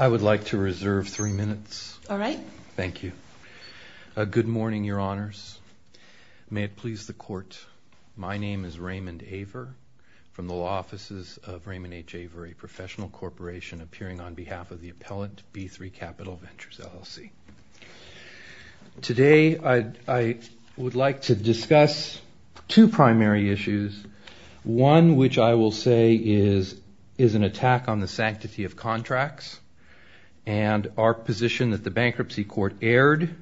I would like to reserve three minutes. All right. Thank you. Good morning, your honors. May it please the court, my name is Raymond Aver from the law offices of Raymond H. Aver, a professional corporation appearing on behalf of the appellant B3 Capital Ventures LLC. Today I would like to discuss two primary issues. One which I will say is an attack on the sanctity of contracts and our position that the bankruptcy court erred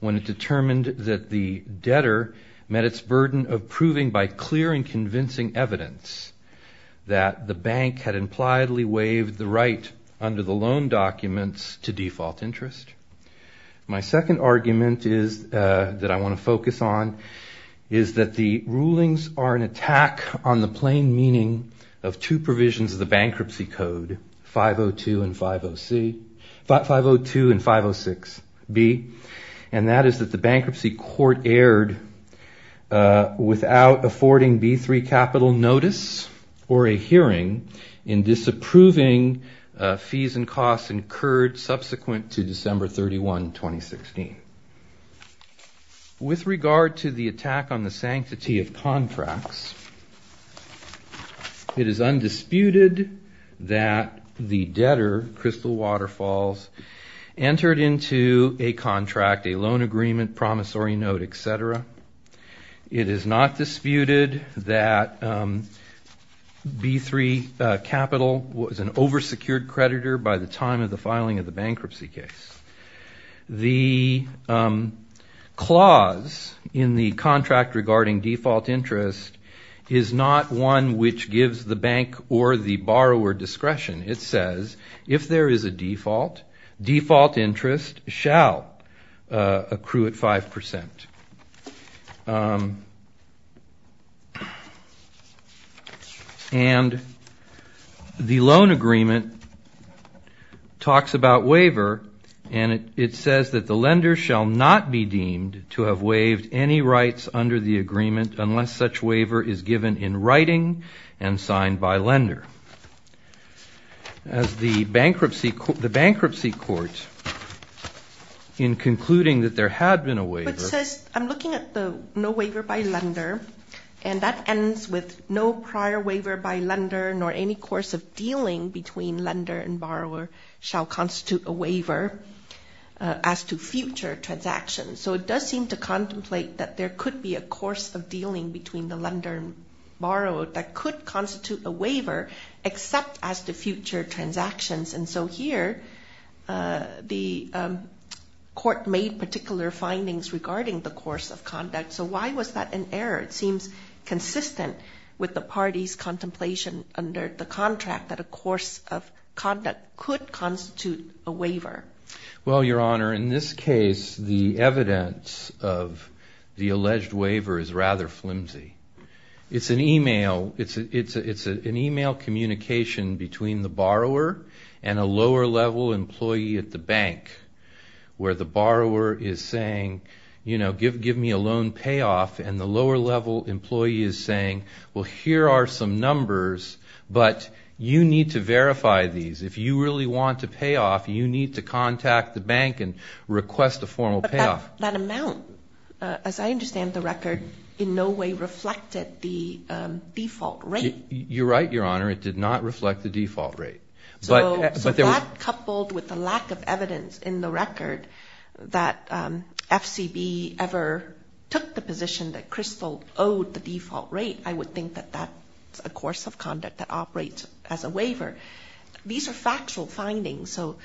when it determined that the debtor met its burden of proving by clear and convincing evidence that the bank had impliedly waived the right under the loan documents to default interest. My rulings are an attack on the plain meaning of two provisions of the bankruptcy code 502 and 506 B and that is that the bankruptcy court erred without affording B3 Capital notice or a hearing in disapproving fees and costs incurred subsequent to December 31, 2016. With regard to the attack on the sanctity of contracts, it is undisputed that the debtor, Crystal Waterfalls, entered into a contract, a loan agreement, promissory note, etc. It is not disputed that B3 Capital was an over-secured creditor by the time of default interest is not one which gives the bank or the borrower discretion. It says if there is a default, default interest shall accrue at 5%. And the loan agreement talks about waiver and it says that the lender shall not be deemed to have waived any rights under the agreement unless such waiver is given in writing and signed by lender. As the bankruptcy court, the bankruptcy court in concluding that there had been a waiver. I'm looking at the no waiver by lender and that ends with no prior waiver by lender nor any course of dealing between lender and borrower shall constitute a waiver as to future transactions. So it does seem to contemplate that there could be a course of dealing between the lender and borrower that could constitute a waiver except as to future transactions. And so here, the court made particular findings regarding the course of conduct. So why was that an error? It seems consistent with the party's contemplation under the contract that a course of conduct could constitute a waiver. Well, Your Honor, in this case, the evidence of the alleged waiver is rather flimsy. It's an email communication between the borrower and a lower level employee at the bank where the borrower is saying, you know, give me a loan payoff and the lower level employee is saying, well, here are some numbers but you need to verify these. If you really want a payoff, you need to contact the bank and request a formal payoff. But that amount, as I understand the record, in no way reflected the default rate. You're right, Your Honor. It did not reflect the default rate. So that coupled with the lack of evidence in the record that FCB ever took the position that Crystal owed the default rate, I would think that that's a course of conduct that operates as a waiver. These are factual findings. So,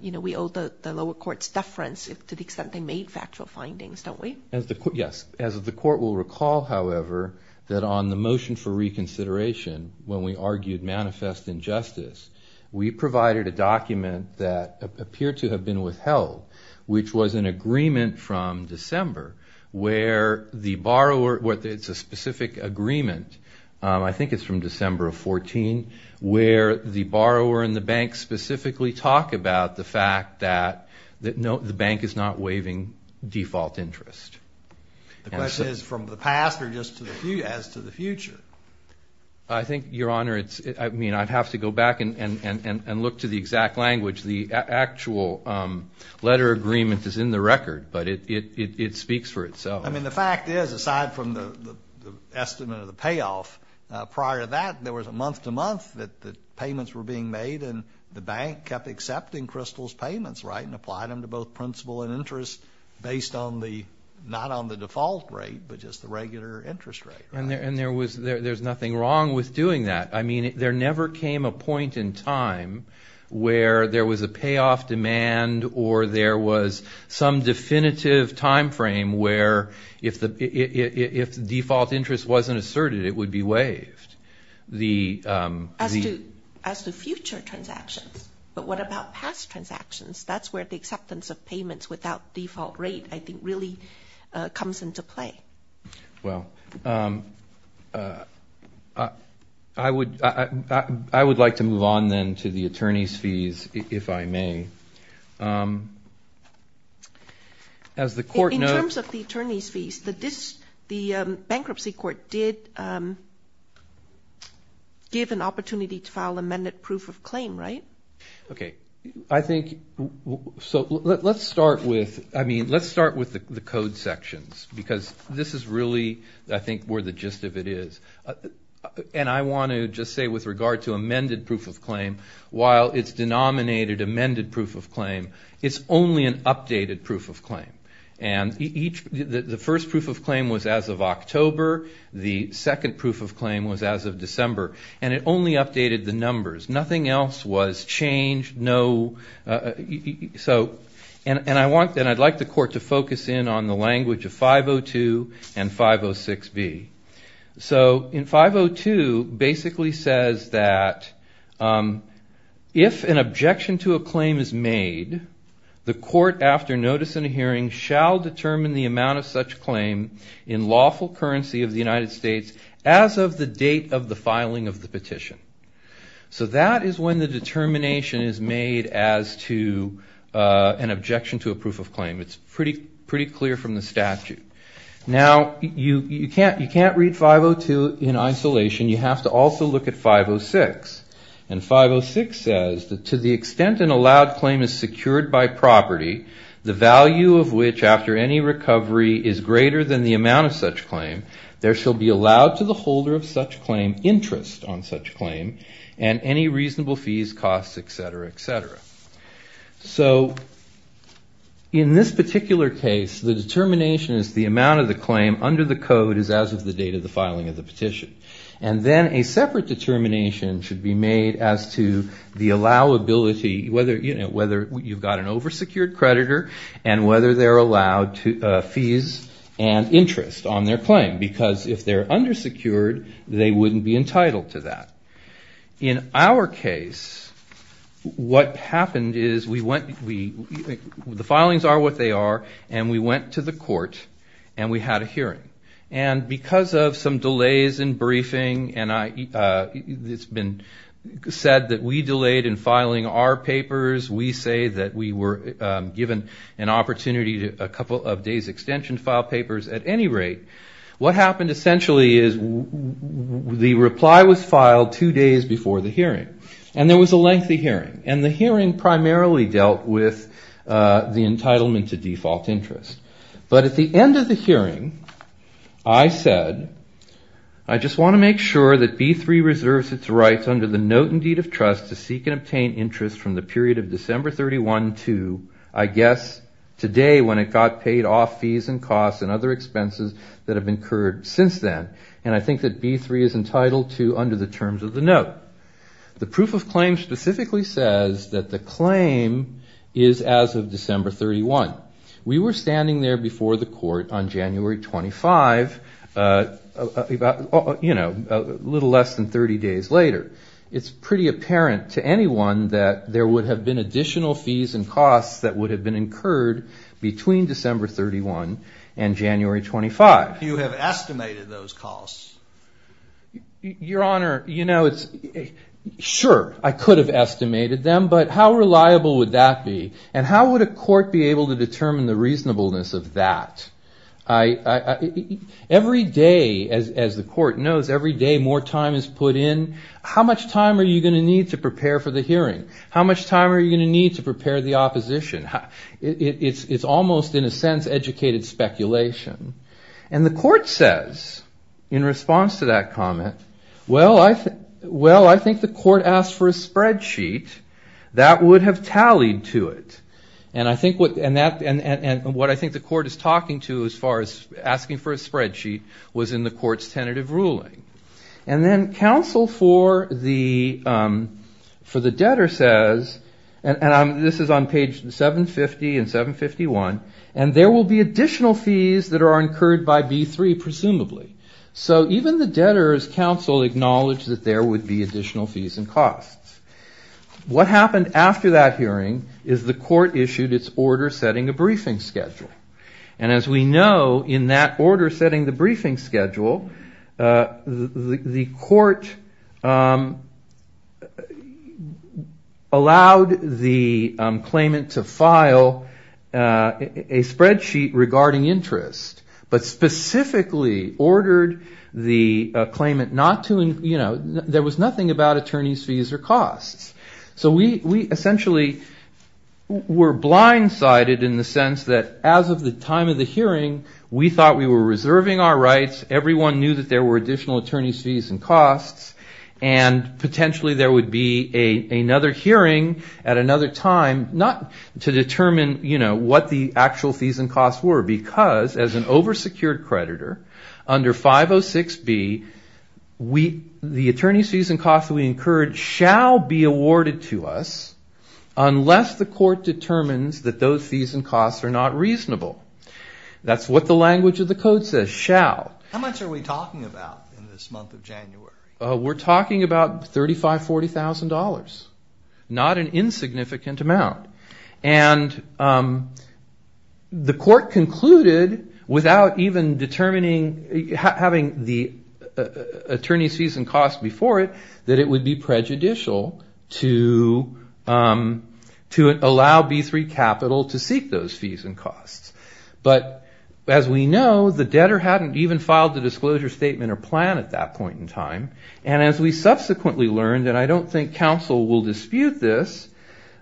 you know, we owe the lower court's deference to the extent they made factual findings, don't we? Yes. As the court will recall, however, that on the motion for reconsideration when we argued manifest injustice, we provided a document that appeared to have been withheld, which was an agreement from December where the borrower, it's a specific agreement, I think it's from December of 14, where the borrower and the bank specifically talk about the fact that the bank is not waiving default interest. The question is from the past or just as to the future? I think, Your Honor, I'd have to go back and look to the exact language. The actual letter agreement is in the record, but it speaks for itself. I mean, the fact is, aside from the estimate of the payoff, prior to that, there was a month-to-month that the payments were being made and the bank kept accepting Crystal's payments, right, and applied them to both principal and interest based on the, not on the default rate, but just the regular interest rate. And there was, there's nothing wrong with doing that. I mean, there never came a point in time where there was a payoff demand or there was some definitive timeframe where if the default interest wasn't asserted, it would be waived. As to future transactions, but what about past transactions? That's where the acceptance of payments without default rate, I think, really comes into play. Well, I would like to move on then to the attorney's fees, if I may. In terms of the attorney's fees, the bankruptcy court did give an opportunity to file amended proof of claim, right? Okay. I think, so let's start with, I mean, let's start with the code sections, because this is really, I think, where the gist of it is. And I want to just say with regard to amended proof of claim, while it's denominated amended proof of claim, it's only an updated proof of claim. And each, the first proof of claim was as of October. The second proof of claim was as of December. And it only updated the numbers. Nothing else was changed, no, so, and I want, and I'd like the court to focus in on the language of 502 and 506B. So, in 502, basically says that if an objection to a claim is made, the court after notice and hearing shall determine the amount of such claim in lawful currency of the United States as of the date of the filing of the petition. So, that is when the determination is made as to an objection to a proof of claim. It's pretty clear from the statute. Now, you can't read 502 in isolation. You have to also look at 506. And 506 says that to the extent an allowed claim is secured by property, the value of which after any recovery is greater than the amount of such claim, there shall be allowed to the holder of such claim interest on such claim, and any reasonable fees, costs, et cetera, et cetera. So, in this particular case, the determination is the amount of the claim under the code is as of the date of the filing of the petition. And then a separate determination should be made as to the allowability, whether, you know, whether you've got an oversecured creditor and whether they're allowed fees and interest on their claim. Because if they're undersecured, they wouldn't be entitled to that. In our case, what happened is we went, we, the filings are what they are, and we went to the court and we had a hearing. And because of some delays in briefing, and I, it's been said that we delayed in filing our papers, we say that we were given an opportunity to, a couple of days extension to file papers. At any rate, what happened essentially is the reply was filed two days before the hearing. And there was a lengthy hearing. And the hearing primarily dealt with the entitlement to default interest. But at the end of the hearing, I said, I just want to make sure that B3 reserves its rights under the note and deed of trust to seek and obtain interest from the period of December 31 down to, I guess, today when it got paid off fees and costs and other expenses that have incurred since then. And I think that B3 is entitled to under the terms of the note. The proof of claim specifically says that the claim is as of December 31. We were standing there before the court on January 25, you know, a little less than 30 days later. It's pretty apparent to anyone that there would have been additional fees and costs that would have been incurred between December 31 and January 25. You have estimated those costs. Your Honor, you know, it's, sure, I could have estimated them. But how reliable would that be? And how would a court be able to determine the reasonableness of that? I, every day, as the court knows, every day more time is put in. How much time are you going to need to prepare for the hearing? How much time are you going to need to prepare the opposition? It's almost, in a sense, educated speculation. And the court says, in response to that comment, well, I think the court asked for a spreadsheet that would have tallied to it. And I think what, and that, and what I think the court is talking to as far as asking for a spreadsheet was in the court's tentative ruling. And then counsel for the debtor says, and this is on page 750 and 751, and there will be additional fees that are incurred by B3, presumably. So even the debtor's counsel acknowledged that there would be additional fees and costs. What happened after that hearing is the court issued its order setting a briefing schedule. And as we know, in that order setting the briefing schedule, the court allowed the claimant to file a spreadsheet regarding interest. But specifically ordered the claimant not to, you know, there was nothing about attorney's fees or costs. So we essentially were blindsided in the sense that as of the time of the hearing, we thought we were reserving our rights. Everyone knew that there were additional attorney's fees and costs. And potentially there would be another hearing at another time, not to determine, you know, what the actual fees and costs were. Because as an oversecured creditor, under 506B, the attorney's fees and costs we incurred shall be awarded to us unless the court determines that those fees and costs are not reasonable. That's what the language of the code says, shall. How much are we talking about in this month of January? We're talking about $35,000, $40,000. Not an insignificant amount. And the court concluded without even determining having the attorney's fees and costs before it that it would be prejudicial to allow B3 capital to seek those fees and costs. But as we know, the debtor hadn't even filed the disclosure statement or plan at that point in time. And as we subsequently learned, and I don't think counsel will dispute this,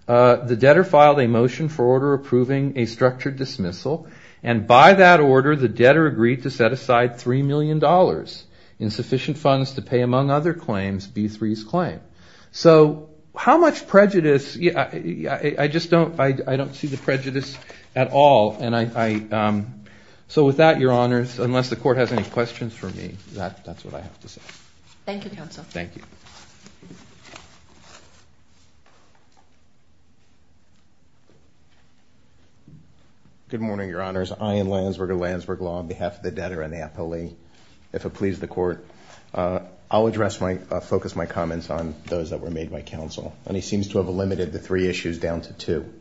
the debtor filed a motion for order approving a structured dismissal. And by that order, the debtor agreed to set aside $3 million in sufficient funds to pay, among other claims, B3's claim. So how much prejudice, I just don't, I don't see the prejudice at all. And I, so with that, your honors, unless the court has any questions for me, that's what I have to say. Thank you, counsel. Thank you. Good morning, your honors. Ian Landsberg of Landsberg Law on behalf of the debtor, Annapolis. If it pleases the court, I'll address my, focus my comments on those that were made by counsel. And he seems to have limited the three issues down to two.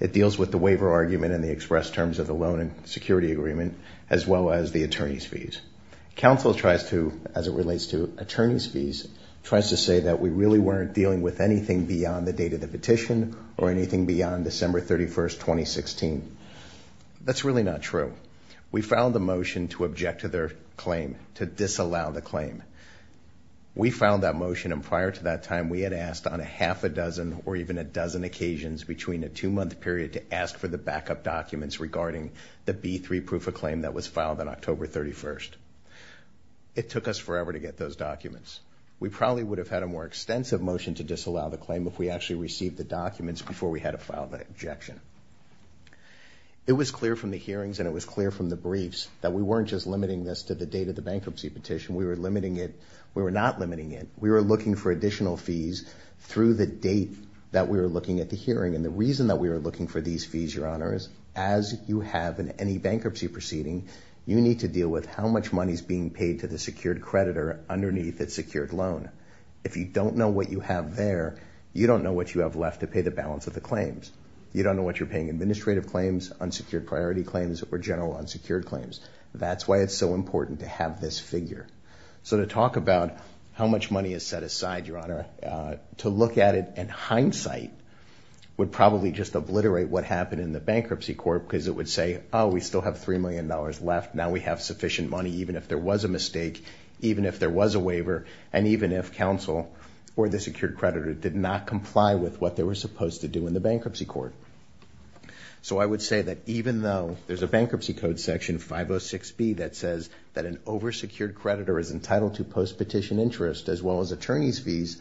It deals with the waiver argument and the express terms of the loan and security agreement, as well as the attorney's fees. Counsel tries to, as it relates to attorney's fees, tries to say that we really weren't dealing with anything beyond the date of the petition or anything beyond December 31st, 2016. That's really not true. We filed a motion to object to their claim, to disallow the claim. We filed that motion and prior to that time, we had asked on a half a dozen or even a dozen occasions between a two month period to ask for the backup documents regarding the B3 proof of claim that was filed on October 31st. It took us forever to get those documents. We probably would have had a more extensive motion to disallow the claim if we actually received the documents before we had to file the objection. It was clear from the hearings and it was clear from the briefs that we weren't just limiting this to the date of the bankruptcy petition. We were limiting it. We were not limiting it. We were looking for additional fees through the date that we were looking at the hearing. And the reason that we were looking for these fees, Your Honor, is as you have in any bankruptcy proceeding, you need to deal with how much money is being paid to the secured creditor underneath its secured loan. If you don't know what you have there, you don't know what you have left to pay the balance of the claims. You don't know what you're paying, administrative claims, unsecured priority claims, or general unsecured claims. That's why it's so important to have this figure. So to talk about how much money is set aside, Your Honor, to look at it in hindsight would probably just obliterate what happened in the bankruptcy court because it would say, oh, we still have $3 million left. Now we have sufficient money even if there was a mistake, even if there was a waiver, and even if counsel or the secured creditor did not comply with what they were supposed to do in the bankruptcy court. So I would say that even though there's a Bankruptcy Code Section 506B that says that an oversecured creditor is entitled to post-petition interest as well as attorney's fees,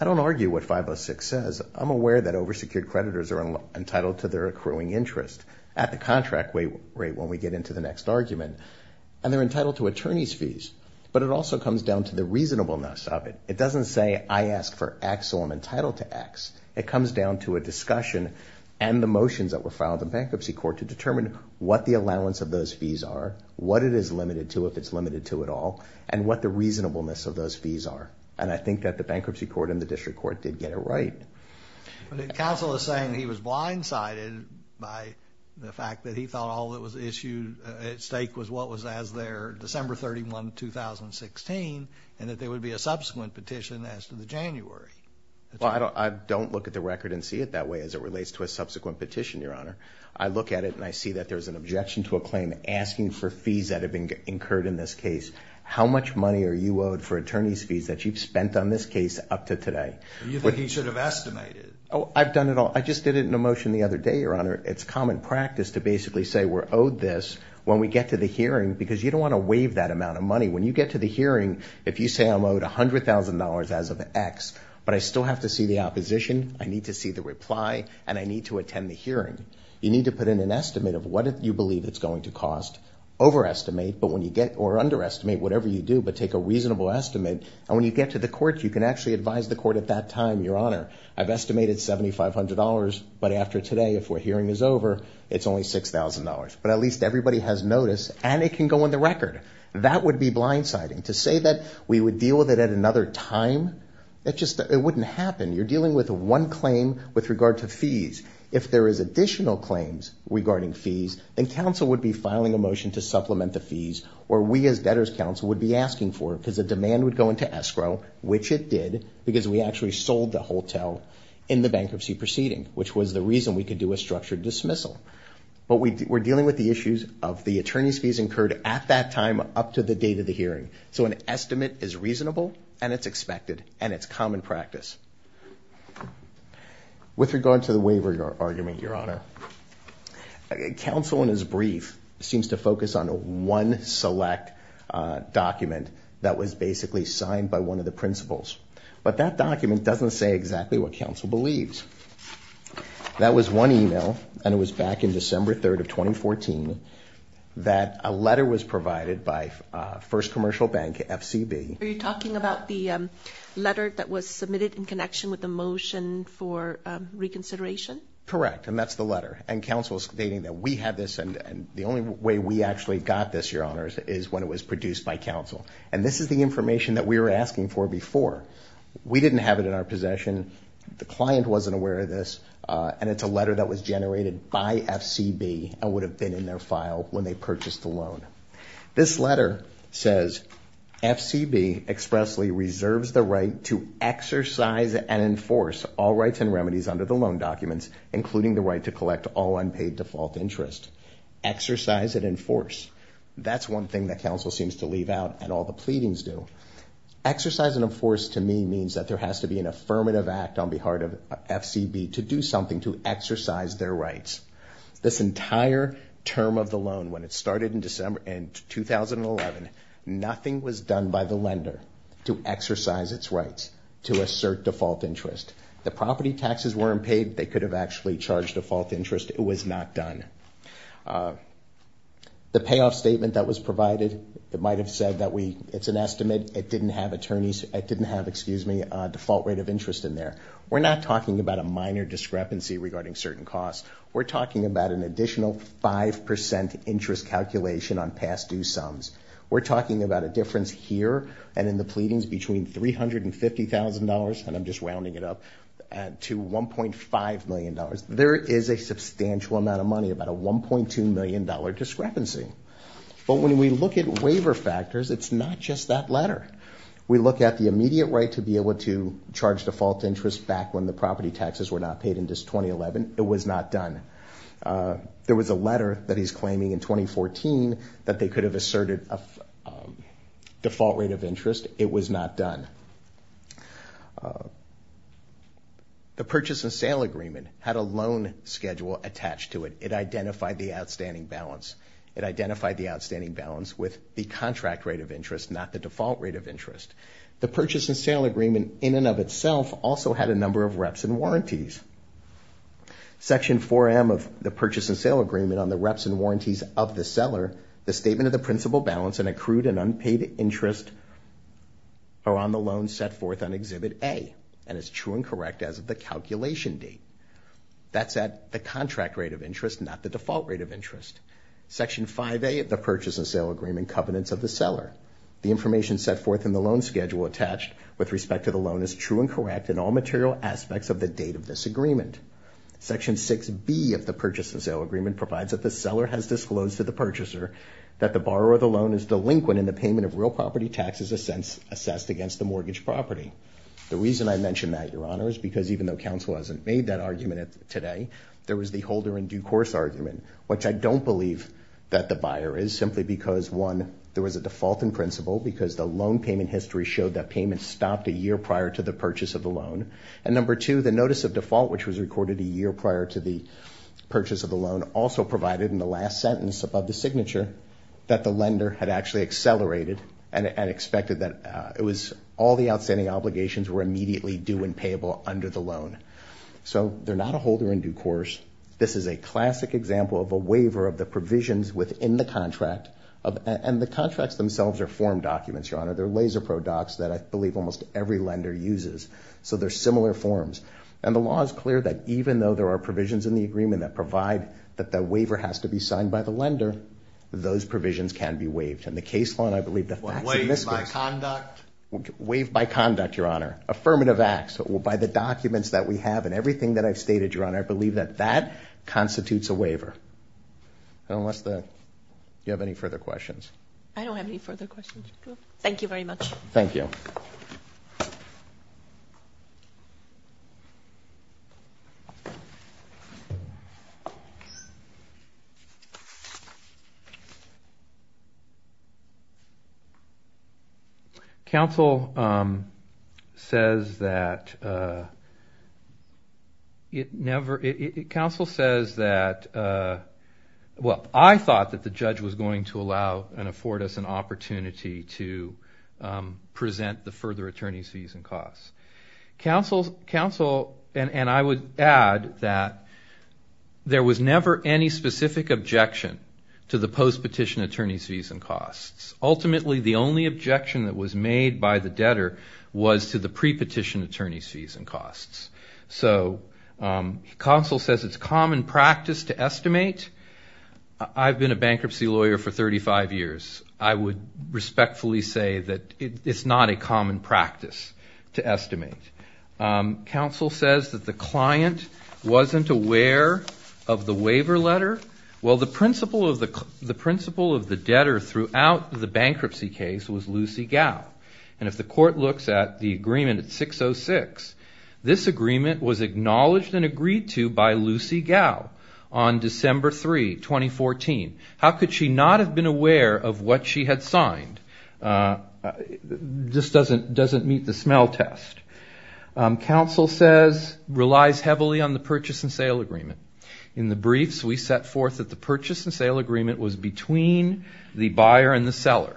I don't argue what 506 says. I'm aware that oversecured creditors are entitled to their accruing interest at the contract rate when we get into the next argument. And they're entitled to attorney's fees. But it also comes down to the reasonableness of it. It doesn't say I ask for X or I'm entitled to X. It comes down to a discussion and the motions that were filed in bankruptcy court to determine what the allowance of those fees are, what it is limited to if it's limited to at all, and what the reasonableness of those fees are. And I think that the bankruptcy court and the district court did get it right. But if counsel is saying he was blindsided by the fact that he thought all that was issued at stake was what was as their December 31, 2016, and that there would be a subsequent petition as to the January. Well, I don't look at the record and see it that way as it relates to a subsequent petition, Your Honor. I look at it and I see that there's an objection to a claim asking for fees that have been incurred in this case. How much money are you owed for attorney's fees that you've spent on this case up to today? You think he should have estimated? Oh, I've done it all. I just did it in a motion the other day, Your Honor. It's common practice to basically say we're owed this when we get to the hearing because you don't want to waive that amount of money. When you get to the hearing, if you say I'm owed $100,000 as of X, but I still have to see the opposition, I need to see the reply, and I need to attend the hearing. You need to put in an estimate of what you believe it's going to cost. Overestimate or underestimate whatever you do, but take a reasonable estimate. And when you get to the court, you can actually advise the court at that time, Your Honor, I've estimated $7,500. But after today, if we're hearing is over, it's only $6,000. But at least everybody has notice and it can go on the record. That would be blindsiding. To say that we would deal with it at another time, it wouldn't happen. You're dealing with one claim with regard to fees. If there is additional claims regarding fees, then counsel would be filing a motion to supplement the fees, or we as debtors counsel would be asking for it because the demand would go into escrow, which it did, because we actually sold the hotel in the bankruptcy proceeding, which was the reason we could do a structured dismissal. But we're dealing with the issues of the attorney's fees incurred at that time up to the date of the hearing. So an estimate is reasonable, and it's expected, and it's common practice. With regard to the waiver argument, Your Honor, counsel in his brief seems to focus on one select document that was basically signed by one of the principals. But that document doesn't say exactly what counsel believes. That was one email, and it was back in December 3rd of 2014, that a letter was provided by First Commercial Bank, FCB. Are you talking about the letter that was submitted in connection with the motion for reconsideration? Correct, and that's the letter. And counsel is stating that we have this, and the only way we actually got this, Your Honors, is when it was produced by counsel. And this is the information that we were asking for before. We didn't have it in our possession. The client wasn't aware of this, and it's a letter that was generated by FCB and would have been in their file when they purchased the loan. This letter says, FCB expressly reserves the right to exercise and enforce all rights and remedies under the loan documents, including the right to collect all unpaid default interest. Exercise and enforce. That's one thing that counsel seems to leave out, and all the pleadings do. Exercise and enforce, to me, means that there has to be an affirmative act on behalf of FCB to do something to exercise their rights. This entire term of the loan, when it started in 2011, nothing was done by the lender to exercise its rights, to assert default interest. The property taxes weren't paid. They could have actually charged default interest. It was not done. The payoff statement that was provided, it might have said that it's an estimate. It didn't have attorneys. It didn't have, excuse me, a default rate of interest in there. We're not talking about a minor discrepancy regarding certain costs. We're talking about an additional 5% interest calculation on past due sums. We're talking about a difference here and in the pleadings between $350,000, and I'm just rounding it up, to $1.5 million. There is a substantial amount of money, about a $1.2 million discrepancy. But when we look at waiver factors, it's not just that letter. We look at the immediate right to be able to charge default interest back when the property taxes were not paid in just 2011. It was not done. There was a letter that he's claiming in 2014 that they could have asserted a default rate of interest. It was not done. The purchase and sale agreement had a loan schedule attached to it. It identified the outstanding balance. It identified the outstanding balance with the contract rate of interest, not the default rate of interest. The purchase and sale agreement in and of itself also had a number of reps and warranties. Section 4M of the purchase and sale agreement on the reps and warranties of the seller, the statement of the principal balance and accrued and unpaid interest are on the loan set forth on Exhibit A and is true and correct as of the calculation date. That's at the contract rate of interest, not the default rate of interest. Section 5A of the purchase and sale agreement covenants of the seller. The information set forth in the loan schedule attached with respect to the loan is true and correct in all material aspects of the date of this agreement. Section 6B of the purchase and sale agreement provides that the seller has disclosed to the purchaser that the borrower of the loan is delinquent in the payment of real property taxes assessed against the mortgage property. The reason I mention that, Your Honor, is because even though counsel hasn't made that argument today, there was the holder in due course argument, which I don't believe that the buyer is, simply because one, there was a default in principle because the loan payment history showed that payment stopped a year prior to the purchase of the loan. And number two, the notice of default, which was recorded a year prior to the purchase of the loan, also provided in the last sentence above the signature that the lender had actually accelerated and expected that it was, all the outstanding obligations were immediately due and payable under the loan. So they're not a holder in due course. This is a classic example of a waiver of the provisions within the contract, and the contracts themselves are form documents, Your Honor. They're LaserPro docs that I believe almost every lender uses. So they're similar forms. And the law is clear that even though there are provisions in the agreement that provide that the waiver has to be signed by the lender, those provisions can be waived. In the case law, and I believe that that's in this case. Waived by conduct? Waived by conduct, Your Honor. Affirmative acts. By the documents that we have and everything that I've stated, Your Honor, I believe that that constitutes a waiver. Unless the, do you have any further questions? I don't have any further questions, Your Honor. Thank you very much. Thank you. Thank you. Counsel says that, it never, counsel says that, well, I thought that the judge was going to allow and afford us an opportunity to present the further attorney's fees and costs. Counsel, and I would add that there was never any specific objection to the post-petition attorney's fees and costs. Ultimately, the only objection that was made by the debtor was to the pre-petition attorney's fees and costs. So counsel says it's common practice to estimate. I've been a bankruptcy lawyer for 35 years. I would respectfully say that it's not a common practice to estimate. Counsel says that the client wasn't aware of the waiver letter. Well, the principal of the debtor throughout the bankruptcy case was Lucy Gao. And if the court looks at the agreement at 606, this agreement was acknowledged and agreed to by Lucy Gao on December 3, 2014. How could she not have been aware of what she had signed? It just doesn't meet the smell test. Counsel says, relies heavily on the purchase and sale agreement. In the briefs, we set forth that the purchase and sale agreement was between the buyer and the seller.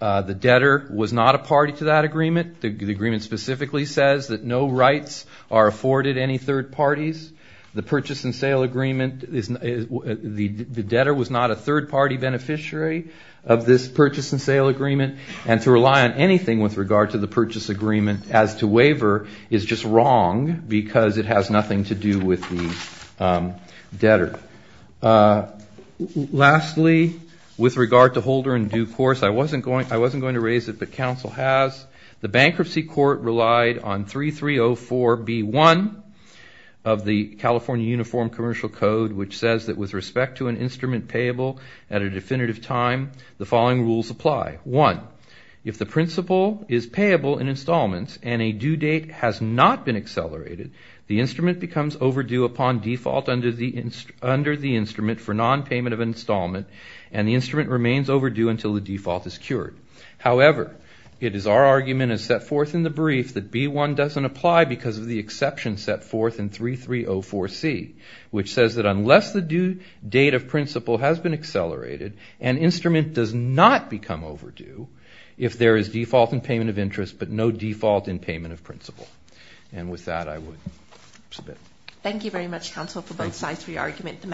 The debtor was not a party to that agreement. The agreement specifically says that no rights are afforded any third parties. The purchase and sale agreement is, the debtor was not a third party beneficiary of this purchase and sale agreement. And to rely on anything with regard to the purchase agreement as to waiver is just wrong because it has nothing to do with the debtor. Lastly, with regard to holder and due course, I wasn't going to raise it, but counsel has. The bankruptcy court relied on 3304B1 of the California Uniform Commercial Code, which says that with respect to an instrument payable at a definitive time, the following rules apply. One, if the principal is payable in installments and a due date has not been accelerated, the instrument becomes overdue upon default under the instrument for non-payment of installment and the instrument remains overdue until the default is cured. However, it is our argument as set forth in the brief that B1 doesn't apply because of the exception set forth in 3304C, which says that unless the due date of principal has been accelerated, an instrument does not become overdue if there is default in payment of interest but no default in payment of principal. And with that, I would submit. Thank you very much, counsel, for both sides of your argument.